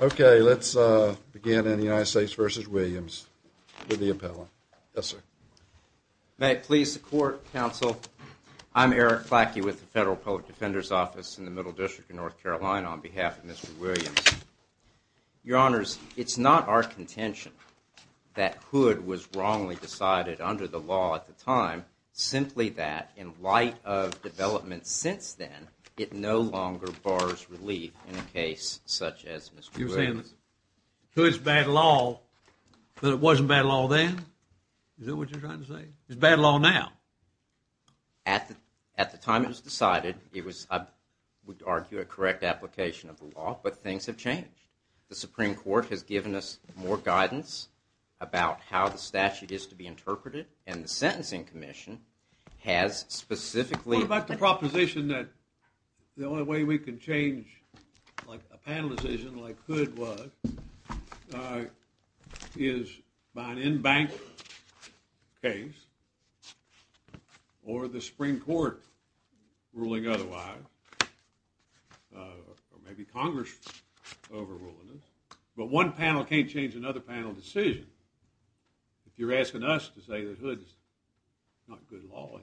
Okay, let's begin in the United States v. Williams with the appellant. Yes, sir. May it please the court, counsel? I'm Eric Clacky with the Federal Public Defender's Office in the Middle District of North Carolina on behalf of Mr. Williams. Your Honors, it's not our contention that Hood was wrongly decided under the law at the time, simply that, in light of developments since then, it no longer bars relief in a case such as Mr. Williams. You're saying Hood's bad law, but it wasn't bad law then? Is that what you're trying to say? It's bad law now? At the time it was decided, it was, I would argue, a correct application of the law, but things have changed. The Supreme Court has given us more guidance about how the statute is to be interpreted, and the Sentencing Commission has specifically What about the proposition that the only way we can change a panel decision like Hood was, is by an in-bank case, or the Supreme Court ruling otherwise, or maybe Congress overruling it, but one panel can't change another panel decision if you're asking us to say that Hood is not good law anymore.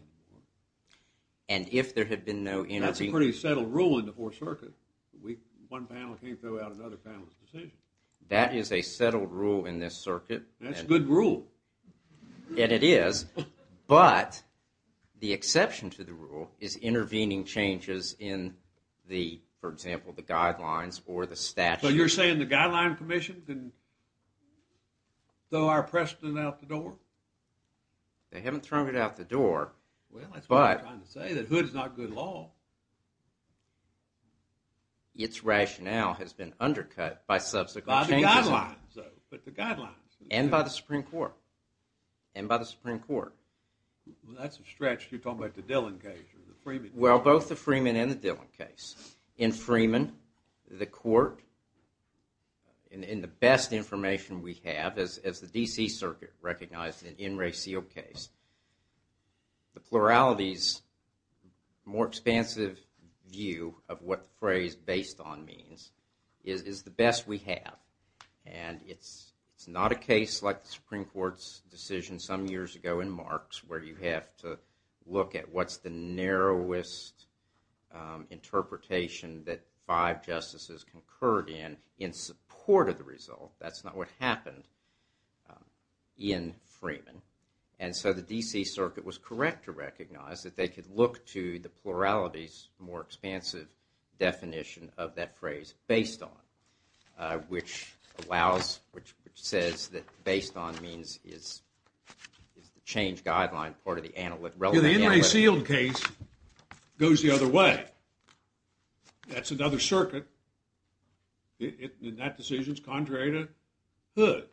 And if there had been no inter- That's a pretty settled rule in the Fourth Circuit. One panel can't throw out another panel's decision. That is a settled rule in this circuit. That's a good rule. And it is, but the exception to the rule is intervening changes in the, for example, the guidelines or the statute. So you're saying the Guideline Commission can throw our precedent out the door? They haven't thrown it out the door, but- Well, that's what I'm trying to say, that Hood is not good law. Its rationale has been undercut by subsequent changes- By the guidelines, though, but the guidelines. And by the Supreme Court. And by the Supreme Court. Well, that's a stretch. You're talking about the Dillon case or the Freeman case. Well, both the Freeman and the Dillon case. In Freeman, the court, in the best information we have, as the D.C. Circuit recognized in N. Ray Seale's case, the plurality's more expansive view of what the phrase based on means is the best we have. And it's not a case like the Supreme Court's decision some years ago in Marks, where you have to look at what's the narrowest interpretation that five justices concurred in, in support of the result. That's not what happened in Freeman. And so the D.C. Circuit was correct to recognize that they could look to the plurality's more expansive definition of that phrase based on, which allows, which says that based on means is the change guideline part of the analytic- The N. Ray Seale case goes the other way. That's another circuit, and that decision's contrary to Hood.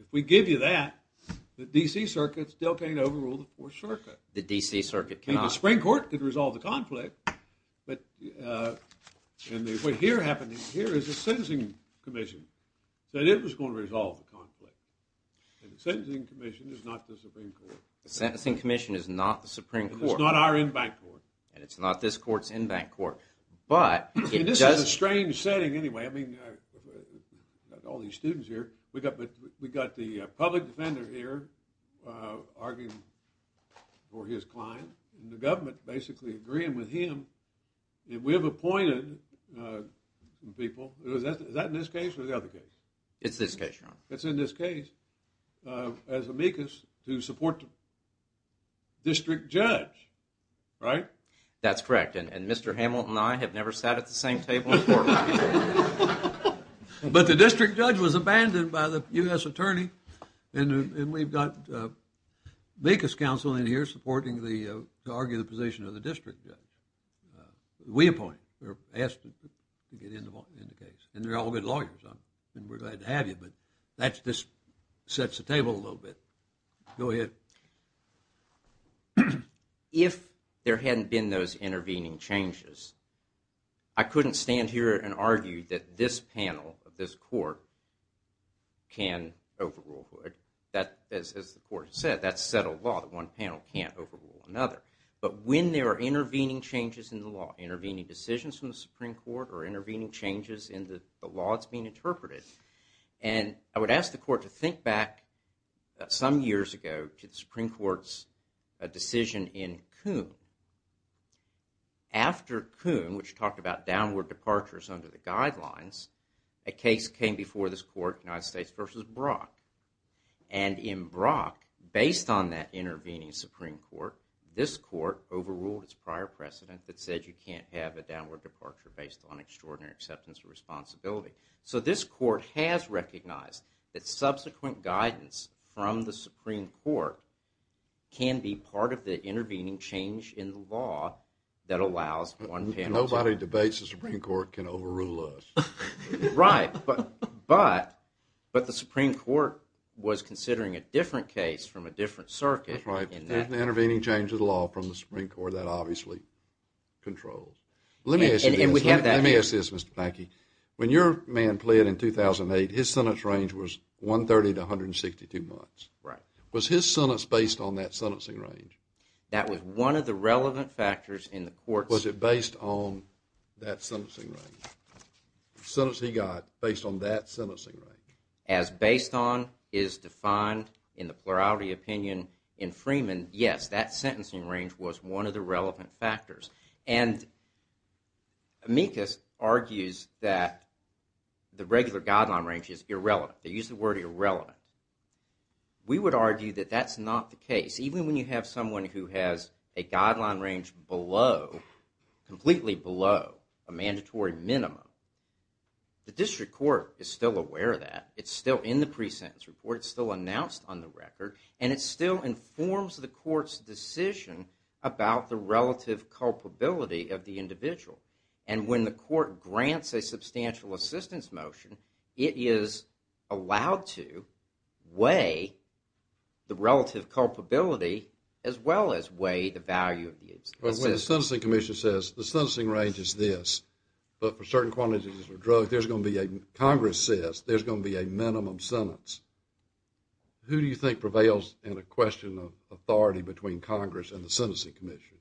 If we give you that, the D.C. Circuit still can't overrule the Fourth Circuit. The D.C. Circuit cannot. I mean, the Supreme Court could resolve the conflict, but what happened here is the Sentencing Commission said it was going to resolve the conflict. And the Sentencing Commission is not the Supreme Court. The Sentencing Commission is not the Supreme Court. It's not our in-bank court. And it's not this court's in-bank court. I mean, this is a strange setting anyway. I mean, we've got all these students here. We've got the public defender here arguing for his client. And the government basically agreeing with him. And we have appointed people. Is that in this case or the other case? It's this case, Your Honor. It's in this case, as amicus, to support the district judge, right? That's correct. And Mr. Hamilton and I have never sat at the same table before. But the district judge was abandoned by the U.S. attorney. And we've got amicus counsel in here supporting the argument of the position of the district judge. We appoint. We're asked to get in the case. And they're all good lawyers. And we're glad to have you. But that just sets the table a little bit. Go ahead. If there hadn't been those intervening changes, I couldn't stand here and argue that this panel of this court can overrule it. As the court has said, that's settled law. That one panel can't overrule another. But when there are intervening changes in the law, intervening decisions from the Supreme Court, or intervening changes in the law that's being interpreted, And I would ask the court to think back some years ago to the Supreme Court's decision in Coon. After Coon, which talked about downward departures under the guidelines, a case came before this court, United States v. Brock. And in Brock, based on that intervening Supreme Court, this court overruled its prior precedent that said you can't have a downward departure based on extraordinary acceptance of responsibility. So this court has recognized that subsequent guidance from the Supreme Court can be part of the intervening change in the law that allows one panel to Nobody debates the Supreme Court can overrule us. Right. But the Supreme Court was considering a different case from a different circuit. That's right. There's an intervening change in the law from the Supreme Court that obviously controls. Let me ask you this. And we have that. Let me ask this, Mr. Mackey. When your man pleaded in 2008, his sentence range was 130 to 162 months. Right. Was his sentence based on that sentencing range? That was one of the relevant factors in the court's Was it based on that sentencing range? The sentence he got based on that sentencing range? As based on is defined in the plurality opinion in Freeman, yes, that sentencing range was one of the relevant factors. And Amicus argues that the regular guideline range is irrelevant. They use the word irrelevant. We would argue that that's not the case. Even when you have someone who has a guideline range below, completely below a mandatory minimum, the district court is still aware of that. It's still in the pre-sentence report. It's still announced on the record. And it still informs the court's decision about the relative culpability of the individual. And when the court grants a substantial assistance motion, it is allowed to weigh the relative culpability as well as weigh the value of the assistance. When the Sentencing Commission says, the sentencing range is this, but for certain quantities of drugs, there's going to be a, Congress says, there's going to be a minimum sentence. Who do you think prevails in a question of authority between Congress and the Sentencing Commission?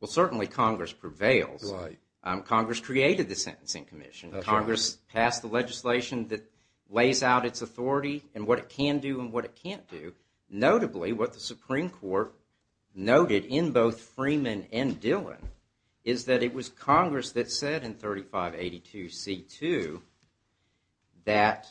Well, certainly Congress prevails. Right. Congress created the Sentencing Commission. That's right. Congress passed the legislation that lays out its authority and what it can do and what it can't do. Notably, what the Supreme Court noted in both Freeman and Dillon is that it was Congress that said in 3582C2 that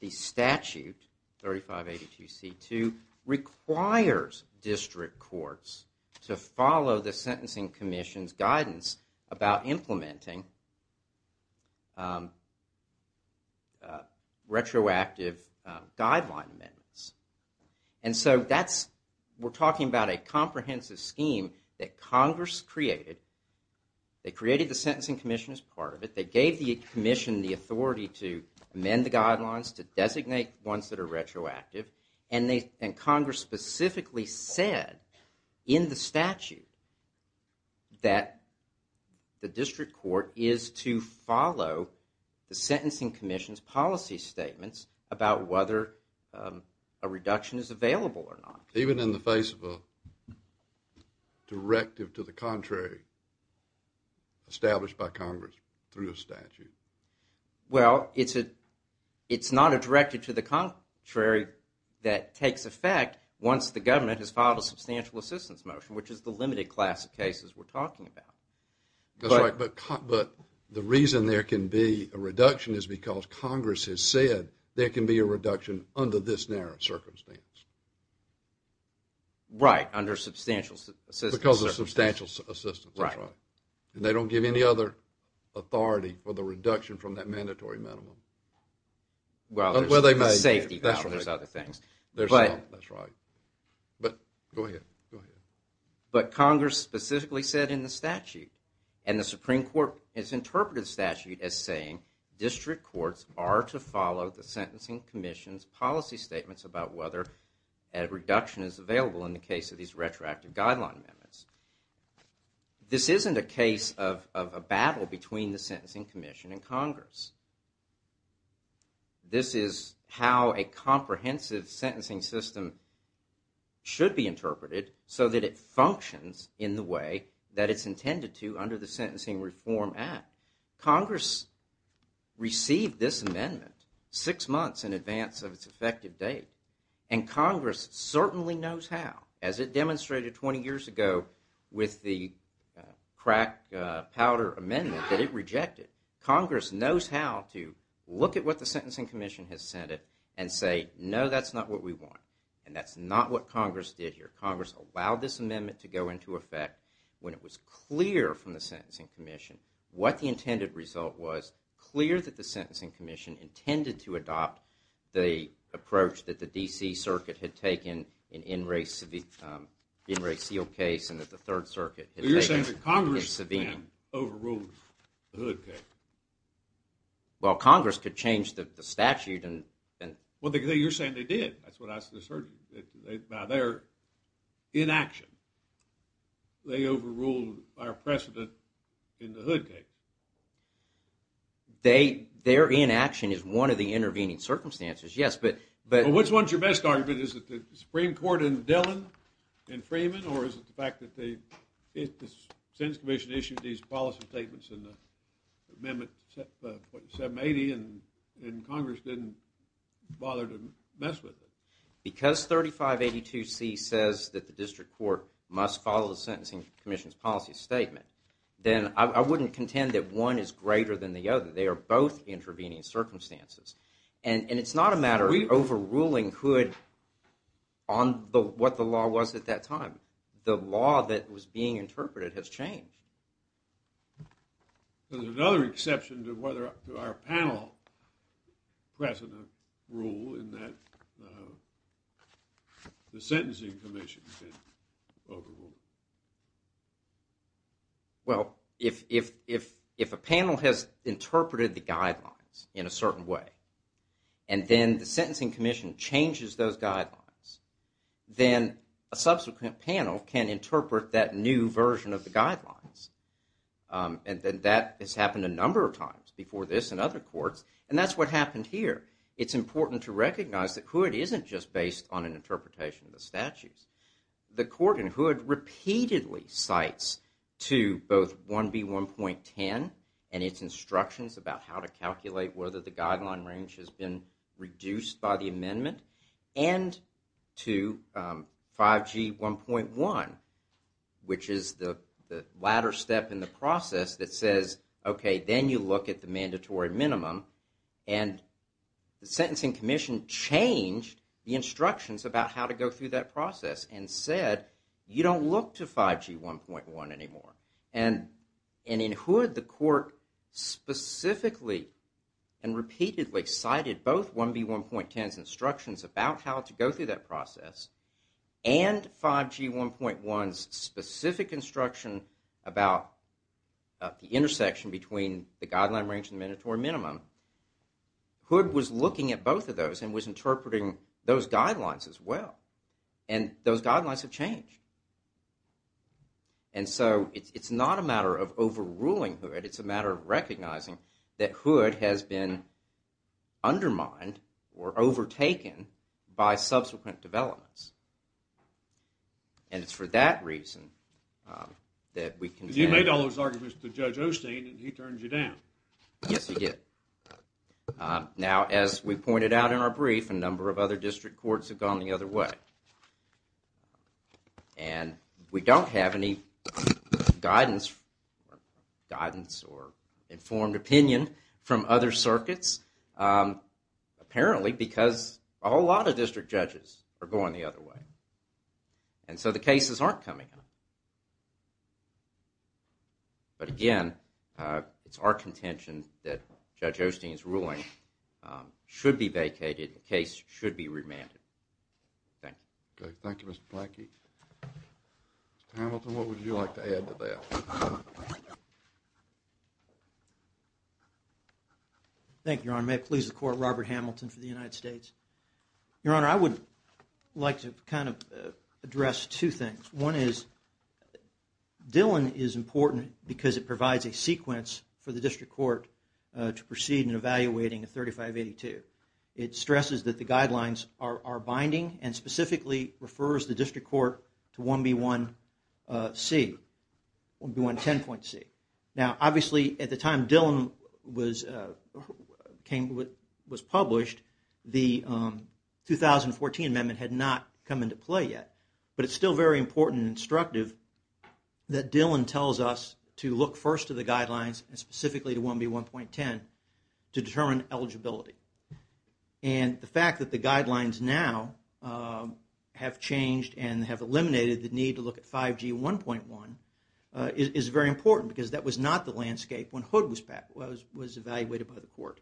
the statute, 3582C2, requires district courts to follow the Sentencing Commission's guidance about implementing retroactive guideline amendments. And so that's, we're talking about a comprehensive scheme that Congress created. They created the Sentencing Commission as part of it. They gave the Commission the authority to amend the guidelines, to designate ones that are retroactive. And Congress specifically said in the statute that the district court is to follow the Sentencing Commission's policy statements about whether a reduction is available or not. Even in the face of a directive to the contrary established by Congress through a statute? Well, it's not a directive to the contrary that takes effect once the government has filed a substantial assistance motion, which is the limited class of cases we're talking about. That's right, but the reason there can be a reduction is because Congress has said there can be a reduction under this narrow circumstance. Right, under substantial assistance. Because of substantial assistance, that's right. And they don't give any other authority for the reduction from that mandatory minimum. Well, there's safety boundaries, other things. That's right. But, go ahead, go ahead. But Congress specifically said in the statute, and the Supreme Court has interpreted the statute as saying, district courts are to follow the Sentencing Commission's policy statements about whether a reduction is available in the case of these retroactive guideline amendments. This isn't a case of a battle between the Sentencing Commission and Congress. This is how a comprehensive sentencing system should be interpreted so that it functions in the way that it's intended to under the Sentencing Reform Act. Congress received this amendment six months in advance of its effective date, and Congress certainly knows how. As it demonstrated 20 years ago with the crack powder amendment that it rejected, Congress knows how to look at what the Sentencing Commission has said and say, no, that's not what we want. And that's not what Congress did here. Congress allowed this amendment to go into effect when it was clear from the Sentencing Commission what the intended result was, when it was clear that the Sentencing Commission intended to adopt the approach that the D.C. Circuit had taken in N. Ray Seale's case, and that the Third Circuit had taken in Savino. But you're saying that Congress then overruled the Hood case. Well, Congress could change the statute. Well, you're saying they did. That's what I just heard. By their inaction, they overruled our precedent in the Hood case. Their inaction is one of the intervening circumstances, yes. Well, what's your best argument? Is it the Supreme Court and Dillon and Freeman, or is it the fact that the Sentencing Commission issued these policy statements in Amendment 780, and Congress didn't bother to mess with it? Because 3582C says that the District Court must follow the Sentencing Commission's policy statement, then I wouldn't contend that one is greater than the other. They are both intervening circumstances. And it's not a matter of overruling Hood on what the law was at that time. The law that was being interpreted has changed. There's another exception to our panel precedent rule in that the Sentencing Commission did overrule it. Well, if a panel has interpreted the guidelines in a certain way, and then the Sentencing Commission changes those guidelines, then a subsequent panel can interpret that new version of the guidelines. And that has happened a number of times before this and other courts, and that's what happened here. It's important to recognize that Hood isn't just based on an interpretation of the statutes. The Court in Hood repeatedly cites to both 1B1.10 and its instructions about how to calculate whether the guideline range has been reduced by the amendment, and to 5G1.1, which is the latter step in the process that says, OK, then you look at the mandatory minimum. And the Sentencing Commission changed the instructions about how to go through that process and said, you don't look to 5G1.1 anymore. And in Hood, the Court specifically and repeatedly cited both 1B1.10's instructions about how to go through that process, and 5G1.1's specific instruction about the intersection between the guideline range and the mandatory minimum. Hood was looking at both of those and was interpreting those guidelines as well. And those guidelines have changed. And so, it's not a matter of overruling Hood, it's a matter of recognizing that Hood has been undermined or overtaken by subsequent developments. And it's for that reason that we contend... You made all those arguments to Judge Osteen and he turned you down. Yes, he did. Now, as we pointed out in our brief, a number of other district courts have gone the other way. And we don't have any guidance or informed opinion from other circuits. Apparently, because a whole lot of district judges are going the other way. And so the cases aren't coming. But again, it's our contention that Judge Osteen's ruling should be vacated, the case should be remanded. Thank you. Thank you, Mr. Planky. Mr. Hamilton, what would you like to add to that? Thank you, Your Honor. May it please the Court, Robert Hamilton for the United States. Your Honor, I would like to kind of address two things. One is, Dillon is important because it provides a sequence for the district court to proceed in evaluating 3582. It stresses that the guidelines are binding and specifically refers the district court to 1B1C, 1B110.C. Now, obviously, at the time Dillon was published, the 2014 amendment had not come into play yet. But it's still very important and instructive that Dillon tells us to look first to the guidelines, and specifically to 1B1.10, to determine eligibility. And the fact that the guidelines now have changed and have eliminated the need to look at 5G1.1 is very important because that was not the landscape when Hood was evaluated by the court.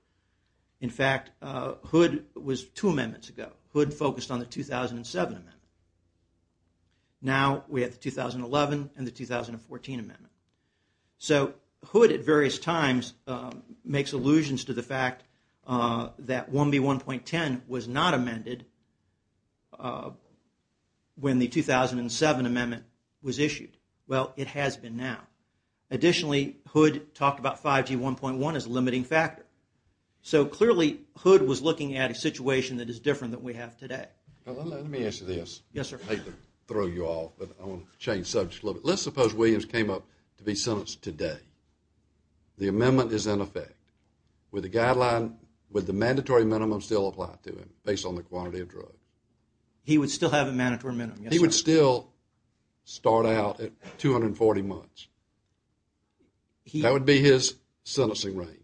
In fact, Hood was two amendments ago. Hood focused on the 2007 amendment. Now we have the 2011 and the 2014 amendment. So Hood, at various times, makes allusions to the fact that 1B1.10 was not amended when the 2007 amendment was issued. Well, it has been now. Additionally, Hood talked about 5G1.1 as a limiting factor. So clearly, Hood was looking at a situation that is different than we have today. Let me ask you this. I hate to throw you off, but I want to change subjects a little bit. Let's suppose Williams came up to be sentenced today. The amendment is in effect. Would the mandatory minimum still apply to him, based on the quantity of drugs? He would still have a mandatory minimum, yes. He would still start out at 240 months. That would be his sentencing range.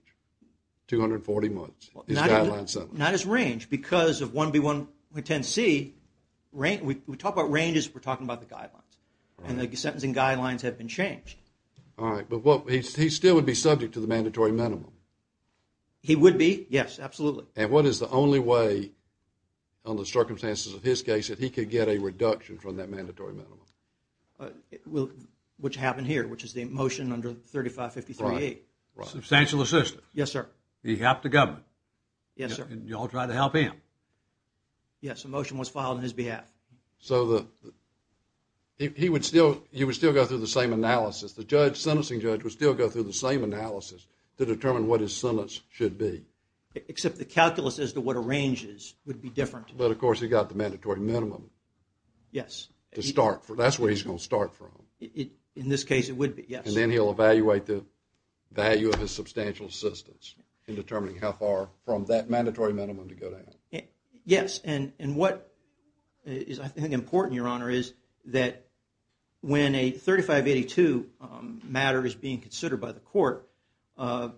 240 months, his guideline sentence. Not his range, because of 1B1.10c, we talk about range as we're talking about the guidelines. And the sentencing guidelines have been changed. All right, but he still would be subject to the mandatory minimum. He would be, yes, absolutely. And what is the only way, under the circumstances of his case, that he could get a reduction from that mandatory minimum? Which happened here, which is the motion under 3553A. Substantial assistance. Yes, sir. He helped the government. Yes, sir. And you all tried to help him. Yes, a motion was filed on his behalf. So he would still go through the same analysis. The sentencing judge would still go through the same analysis to determine what his sentence should be. Except the calculus as to what a range is would be different. But, of course, he got the mandatory minimum. Yes. That's where he's going to start from. In this case, it would be, yes. And then he'll evaluate the value of his substantial assistance in determining how far from that mandatory minimum to go down. Yes. And what is, I think, important, Your Honor, is that when a 3582 matter is being considered by the court, for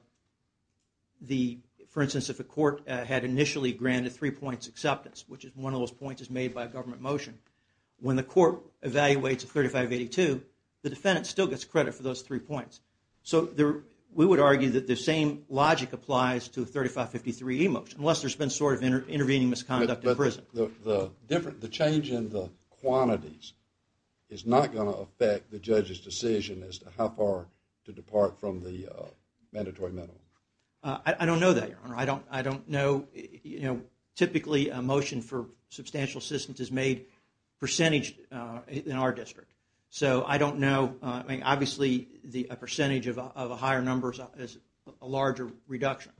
instance, if a court had initially granted three points acceptance, which is one of those points is made by a government motion, when the court evaluates a 3582, the defendant still gets credit for those three points. So we would argue that the same logic applies to a 3553 e-motion, unless there's been sort of intervening misconduct in prison. But the change in the quantities is not going to affect the judge's decision as to how far to depart from the mandatory minimum. I don't know that, Your Honor. I don't know. Typically, a motion for substantial assistance is made percentage in our district. So I don't know. Obviously, a percentage of a higher number is a larger reduction.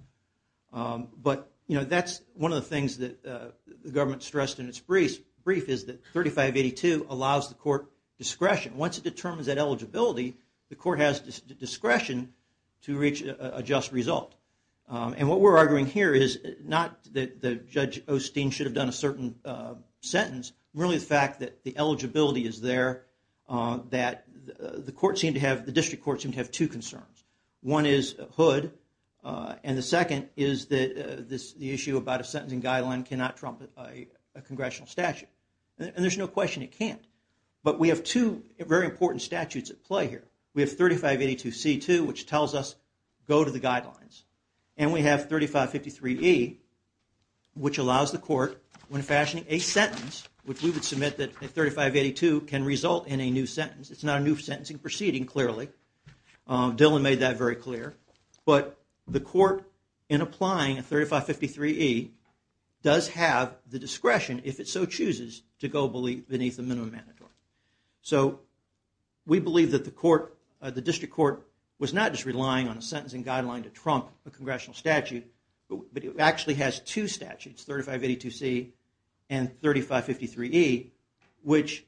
But that's one of the things that the government stressed in its brief, is that 3582 allows the court discretion. Once it determines that eligibility, the court has discretion to reach a just result. And what we're arguing here is not that Judge Osteen should have done a certain sentence. Really, the fact that the eligibility is there, that the district courts seem to have two concerns. One is Hood. And the second is that the issue about a sentencing guideline cannot trump a congressional statute. And there's no question it can't. But we have two very important statutes at play here. We have 3582c-2, which tells us go to the guidelines. And we have 3553e, which allows the court, when fashioning a sentence, which we would submit that 3582 can result in a new sentence. It's not a new sentencing proceeding, clearly. Dylan made that very clear. But the court, in applying 3553e, does have the discretion, if it so chooses, to go beneath the minimum mandatory. So we believe that the district court was not just relying on a sentencing guideline to trump a congressional statute, but it actually has two statutes, 3582c and 3553e, which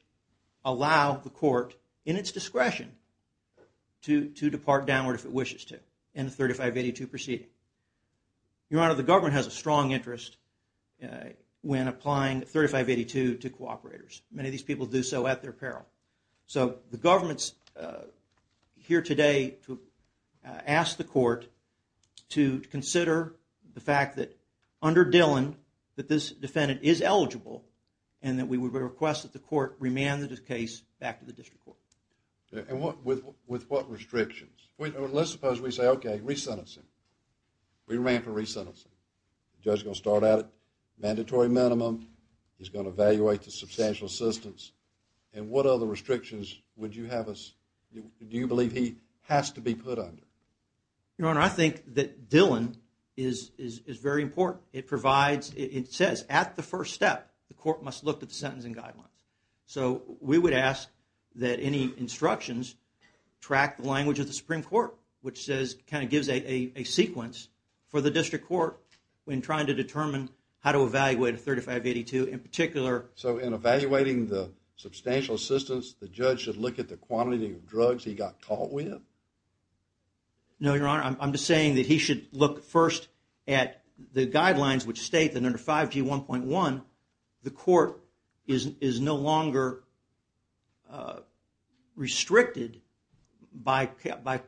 allow the court, in its discretion, to depart downward if it wishes to in the 3582 proceeding. Your Honor, the government has a strong interest when applying 3582 to cooperators. Many of these people do so at their peril. So the government's here today to ask the court to consider the fact that, under Dylan, that this defendant is eligible, and that we would request that the court remand the case back to the district court. And with what restrictions? Let's suppose we say, okay, re-sentence him. We ran for re-sentencing. The judge is going to start out at mandatory minimum. He's going to evaluate the substantial assistance. And what other restrictions would you have us, do you believe he has to be put under? Your Honor, I think that Dylan is very important. It provides, it says at the first step, the court must look at the sentencing guidelines. So we would ask that any instructions track the language of the Supreme Court, which says, kind of gives a sequence for the district court when trying to determine how to evaluate a 3582 in particular. So in evaluating the substantial assistance, the judge should look at the quantity of drugs he got caught with? No, Your Honor, I'm just saying that he should look first at the guidelines which state that under 5G1.1, the court is no longer restricted by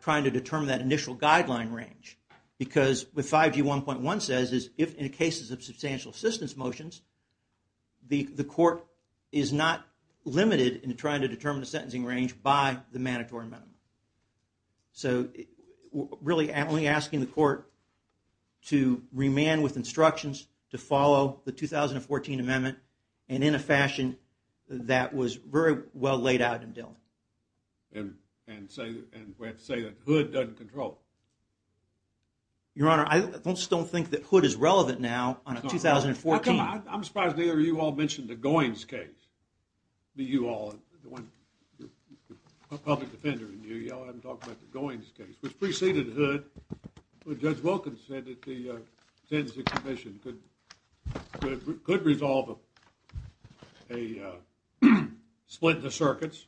trying to determine that initial guideline range. Because what 5G1.1 says is if in cases of substantial assistance motions, the court is not limited in trying to determine the sentencing range by the mandatory minimum. So really only asking the court to remand with instructions to follow the 2014 amendment, and in a fashion that was very well laid out in Dylan. And say that Hood doesn't control it? Your Honor, I just don't think that Hood is relevant now on a 2014. I'm surprised neither of you all mentioned the Goins case. You all, the public defender in you, you haven't talked about the Goins case, which preceded Hood, but Judge Wilkins said that the sentencing commission could resolve a split in the circuits,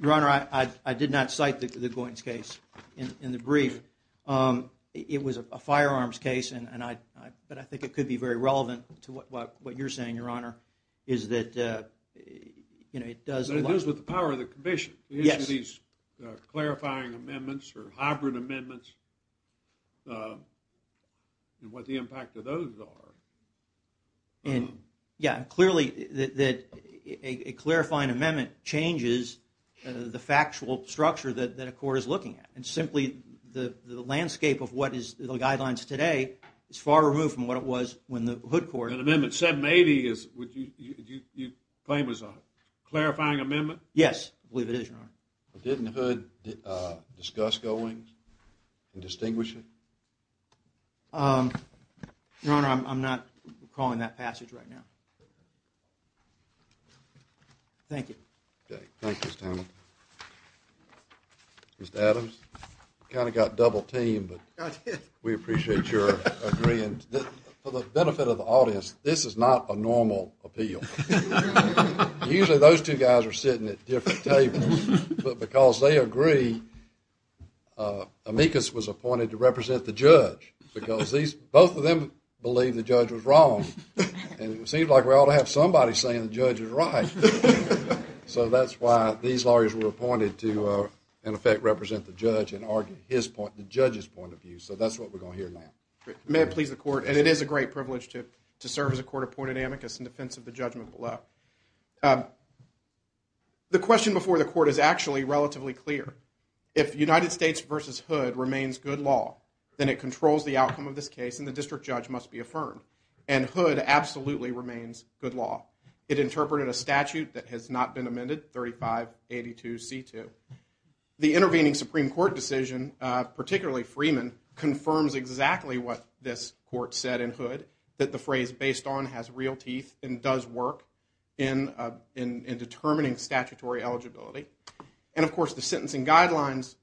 Your Honor, I did not cite the Goins case in the brief. It was a firearms case, but I think it could be very relevant to what you're saying, Your Honor. It is with the power of the commission. These clarifying amendments or hybrid amendments and what the impact of those are. Yeah, clearly a clarifying amendment changes the factual structure that a court is looking at. And simply the landscape of what is the guidelines today is far removed from what it was when the Hood court... An amendment 780 you claim was a clarifying amendment? Yes, I believe it is, Your Honor. Didn't Hood discuss Goins and distinguish it? Your Honor, I'm not calling that passage right now. Thank you. Okay, thank you, Mr. Townsend. Mr. Adams, kind of got double teamed, but we appreciate your agreeing. For the benefit of the audience, this is not a normal appeal. Usually those two guys are sitting at different tables, but because they agree, amicus was appointed to represent the judge because both of them believe the judge was wrong. And it seems like we ought to have somebody saying the judge is right. So that's why these lawyers were appointed to, in effect, represent the judge and argue the judge's point of view. So that's what we're going to hear now. May it please the Court. And it is a great privilege to serve as a court appointed amicus in defense of the judgment below. The question before the Court is actually relatively clear. If United States v. Hood remains good law, then it controls the outcome of this case, and the district judge must be affirmed. And Hood absolutely remains good law. It interpreted a statute that has not been amended, 3582C2. The intervening Supreme Court decision, particularly Freeman, confirms exactly what this Court said in Hood, that the phrase based on has real teeth and does work in determining statutory eligibility. And, of course, the Sentencing Guidelines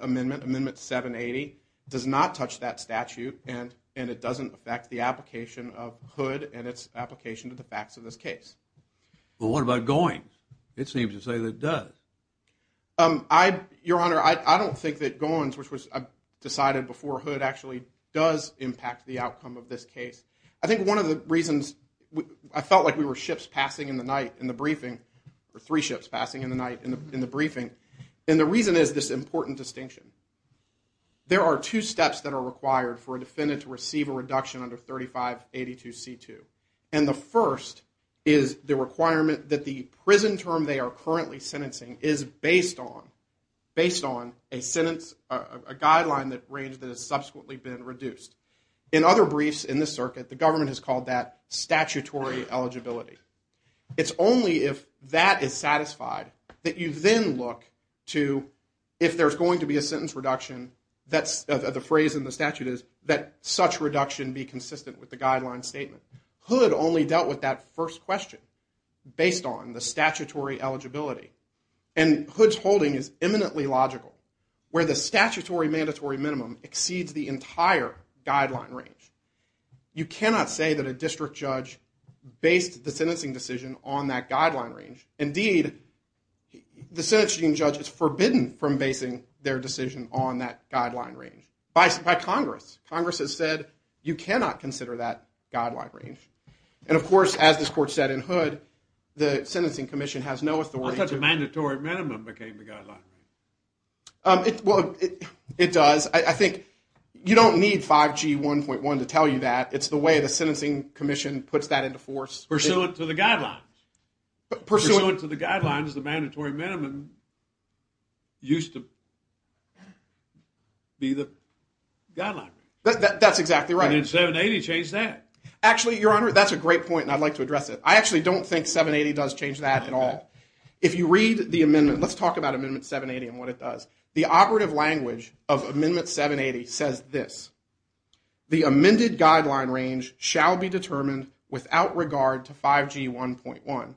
Amendment, Amendment 780, does not touch that statute, and it doesn't affect the application of Hood and its application to the facts of this case. Well, what about Goins? It seems to say that it does. Your Honor, I don't think that Goins, which was decided before Hood, actually does impact the outcome of this case. I think one of the reasons I felt like we were ships passing in the night in the briefing, or three ships passing in the night in the briefing, and the reason is this important distinction. There are two steps that are required for a defendant to receive a reduction under 3582C2. And the first is the requirement that the prison term they are currently sentencing is based on a sentence, a guideline range that has subsequently been reduced. In other briefs in this circuit, the government has called that statutory eligibility. It's only if that is satisfied that you then look to, if there's going to be a sentence reduction, the phrase in the statute is that such reduction be consistent with the guideline statement. Hood only dealt with that first question based on the statutory eligibility. And Hood's holding is eminently logical. Where the statutory mandatory minimum exceeds the entire guideline range. You cannot say that a district judge based the sentencing decision on that guideline range. Indeed, the sentencing judge is forbidden from basing their decision on that guideline range. By Congress. Congress has said you cannot consider that guideline range. And of course, as this court said in Hood, the sentencing commission has no authority to... How come the mandatory minimum became the guideline range? It does. I think you don't need 5G 1.1 to tell you that. It's the way the sentencing commission puts that into force. Pursuant to the guidelines. Pursuant to the guidelines, the mandatory minimum used to be the guideline range. That's exactly right. And then 780 changed that. Actually, Your Honor, that's a great point and I'd like to address it. I actually don't think 780 does change that at all. If you read the amendment, let's talk about Amendment 780 and what it does. The operative language of Amendment 780 says this. The amended guideline range shall be determined without regard to 5G 1.1.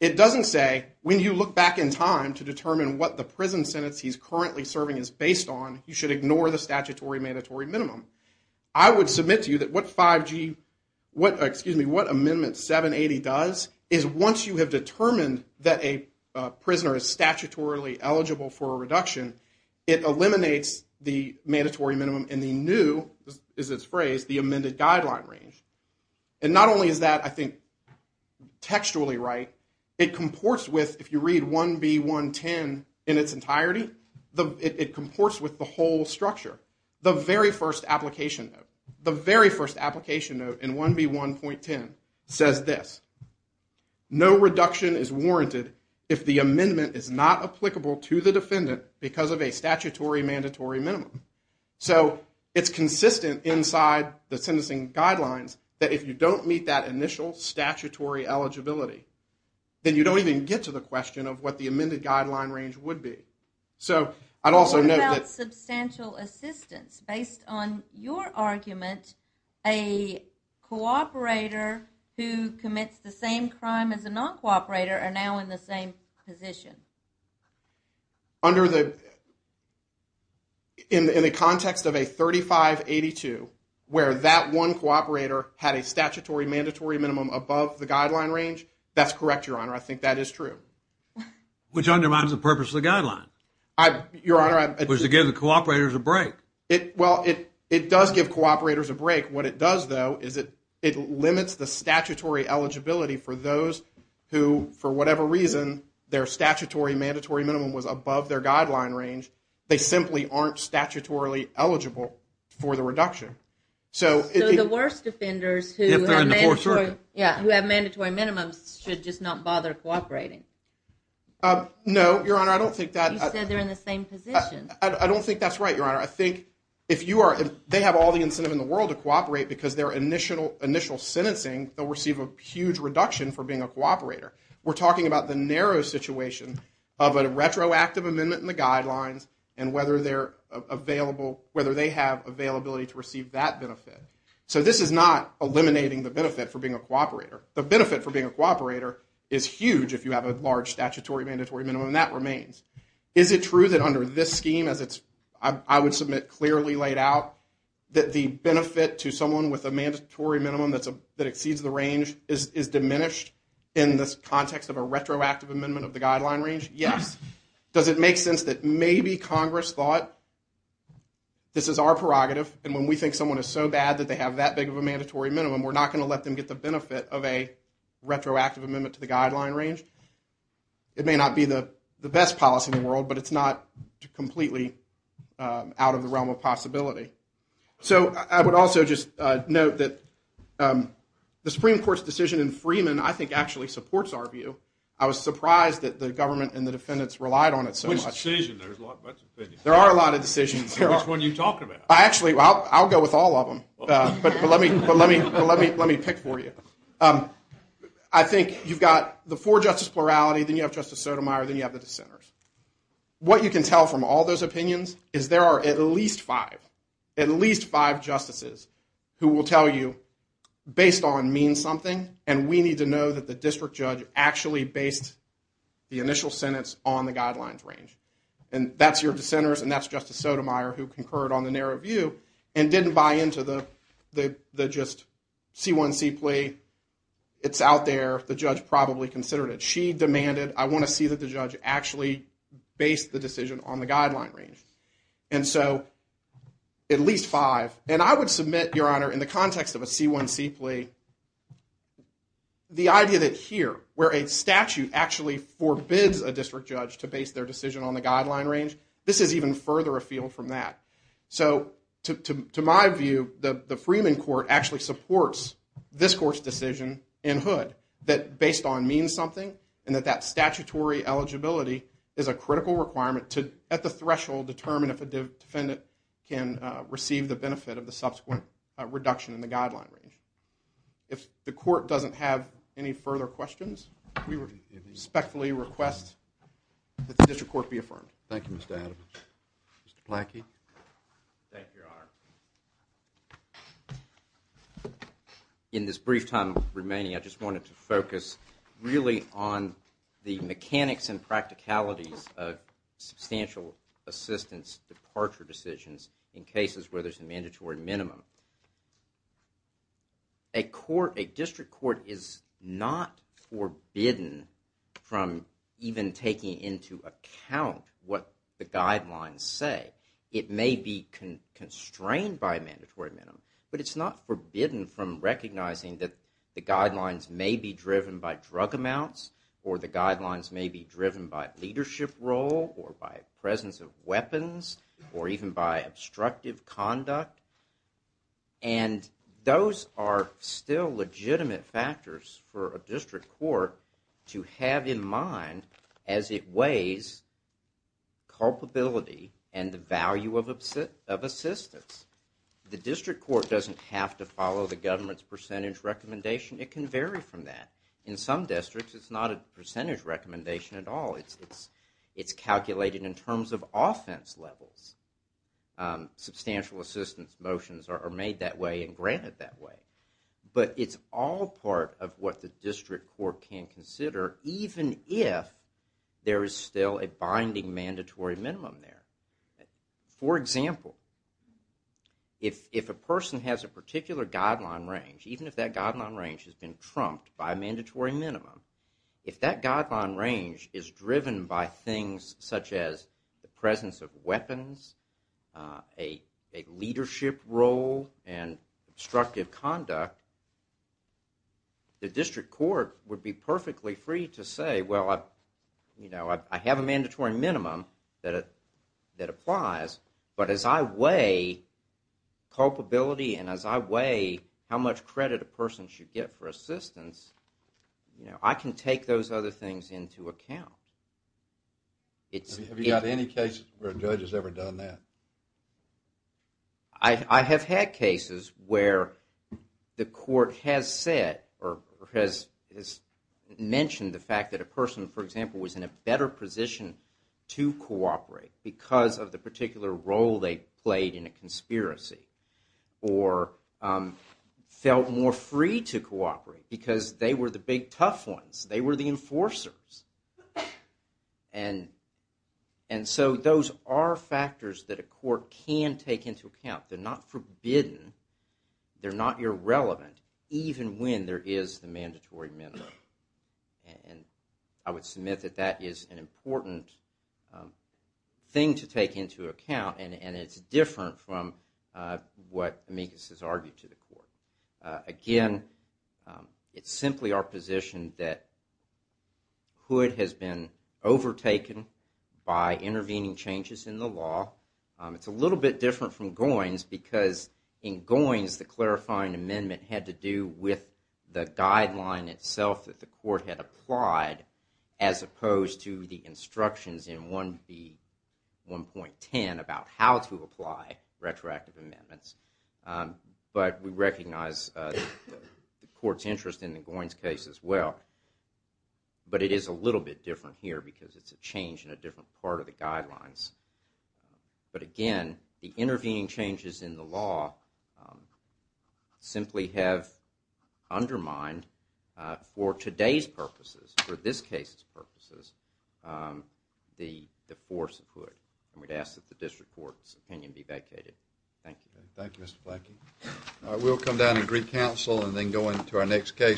It doesn't say when you look back in time to determine what the prison sentence he's currently serving is based on, you should ignore the statutory mandatory minimum. I would submit to you that what Amendment 780 does is once you have determined that a prisoner is statutorily eligible for a reduction, it eliminates the mandatory minimum and the new, as it's phrased, the amended guideline range. And not only is that, I think, textually right, it comports with, if you read 1B 1.10 in its entirety, it comports with the whole structure. The very first application, the very first application note in 1B 1.10 says this. No reduction is warranted if the amendment is not applicable to the defendant because of a statutory mandatory minimum. So it's consistent inside the sentencing guidelines that if you don't meet that initial statutory eligibility, then you don't even get to the question of what the amended guideline range would be. What about substantial assistance? Based on your argument, a cooperator who commits the same crime as a non-cooperator are now in the same position. In the context of a 3582 where that one cooperator had a statutory mandatory minimum above the guideline range, that's correct, Your Honor. I think that is true. Which undermines the purpose of the guideline, which is to give the cooperators a break. Well, it does give cooperators a break. What it does, though, is it limits the statutory eligibility for those who, for whatever reason, their statutory mandatory minimum was above their guideline range. They simply aren't statutorily eligible for the reduction. So the worst offenders who have mandatory minimums should just not bother cooperating. No, Your Honor, I don't think that. You said they're in the same position. I don't think that's right, Your Honor. I think if they have all the incentive in the world to cooperate because their initial sentencing, they'll receive a huge reduction for being a cooperator. We're talking about the narrow situation of a retroactive amendment in the guidelines and whether they have availability to receive that benefit. So this is not eliminating the benefit for being a cooperator. The benefit for being a cooperator is huge if you have a large statutory mandatory minimum, and that remains. Is it true that under this scheme, as I would submit clearly laid out, that the benefit to someone with a mandatory minimum that exceeds the range is diminished in this context of a retroactive amendment of the guideline range? Yes. Does it make sense that maybe Congress thought this is our prerogative, and when we think someone is so bad that they have that big of a mandatory minimum, we're not going to let them get the benefit of a retroactive amendment to the guideline range? It may not be the best policy in the world, but it's not completely out of the realm of possibility. So I would also just note that the Supreme Court's decision in Freeman, I think, actually supports our view. I was surprised that the government and the defendants relied on it so much. Which decision? There's a lot of opinions. There are a lot of decisions. Which one are you talking about? Actually, I'll go with all of them, but let me pick for you. I think you've got the four justice plurality, then you have Justice Sotomayor, then you have the dissenters. What you can tell from all those opinions is there are at least five, at least five justices, who will tell you based on mean something, and we need to know that the district judge actually based the initial sentence on the guidelines range. And that's your dissenters, and that's Justice Sotomayor who concurred on the narrow view and didn't buy into the just C1C plea. It's out there. The judge probably considered it. She demanded, I want to see that the judge actually based the decision on the guideline range. And so, at least five. And I would submit, Your Honor, in the context of a C1C plea, the idea that here, where a statute actually forbids a district judge to base their decision on the guideline range, this is even further afield from that. So, to my view, the Freeman court actually supports this court's decision in Hood that based on mean something, and that that statutory eligibility is a critical requirement to, at the threshold, determine if a defendant can receive the benefit of the subsequent reduction in the guideline range. If the court doesn't have any further questions, we respectfully request that the district court be affirmed. Thank you, Mr. Adams. Mr. Planky. Thank you, Your Honor. In this brief time remaining, I just wanted to focus really on the mechanics and practicalities of substantial assistance departure decisions in cases where there's a mandatory minimum. A court, a district court is not forbidden from even taking into account what the guidelines say. It may be constrained by a mandatory minimum, but it's not forbidden from recognizing that the guidelines may be driven by drug amounts, or the guidelines may be driven by leadership role, or by presence of weapons, or even by obstructive conduct. And those are still legitimate factors for a district court to have in mind as it weighs culpability and the value of assistance. The district court doesn't have to follow the government's percentage recommendation. It can vary from that. In some districts, it's not a percentage recommendation at all. It's calculated in terms of offense levels. Substantial assistance motions are made that way and granted that way. But it's all part of what the district court can consider, even if there is still a binding mandatory minimum there. For example, if a person has a particular guideline range, even if that guideline range has been trumped by a mandatory minimum, if that guideline range is driven by things such as the presence of weapons, a leadership role, and obstructive conduct, the district court would be perfectly free to say, well, I have a mandatory minimum that applies, but as I weigh culpability and as I weigh how much credit a person should get for assistance, I can take those other things into account. Have you had any cases where a judge has ever done that? I have had cases where the court has said or has mentioned the fact that a person, for example, was in a better position to cooperate because of the particular role they played in a conspiracy or felt more free to cooperate because they were the big tough ones. They were the enforcers. And so those are factors that a court can take into account. They're not forbidden. They're not irrelevant, even when there is the mandatory minimum. And I would submit that that is an important thing to take into account, and it's different from what Amicus has argued to the court. Again, it's simply our position that Hood has been overtaken by intervening changes in the law. It's a little bit different from Goins because in Goins, the clarifying amendment had to do with the guideline itself that the court had applied as opposed to the instructions in 1B1.10 about how to apply retroactive amendments. But we recognize the court's interest in the Goins case as well. But it is a little bit different here because it's a change in a different part of the guidelines. But again, the intervening changes in the law simply have undermined for today's purposes, for this case's purposes, the force of Hood. And we'd ask that the district court's opinion be vacated. Thank you. Thank you, Mr. Flankey. We'll come down to Greek Council and then go into our next case.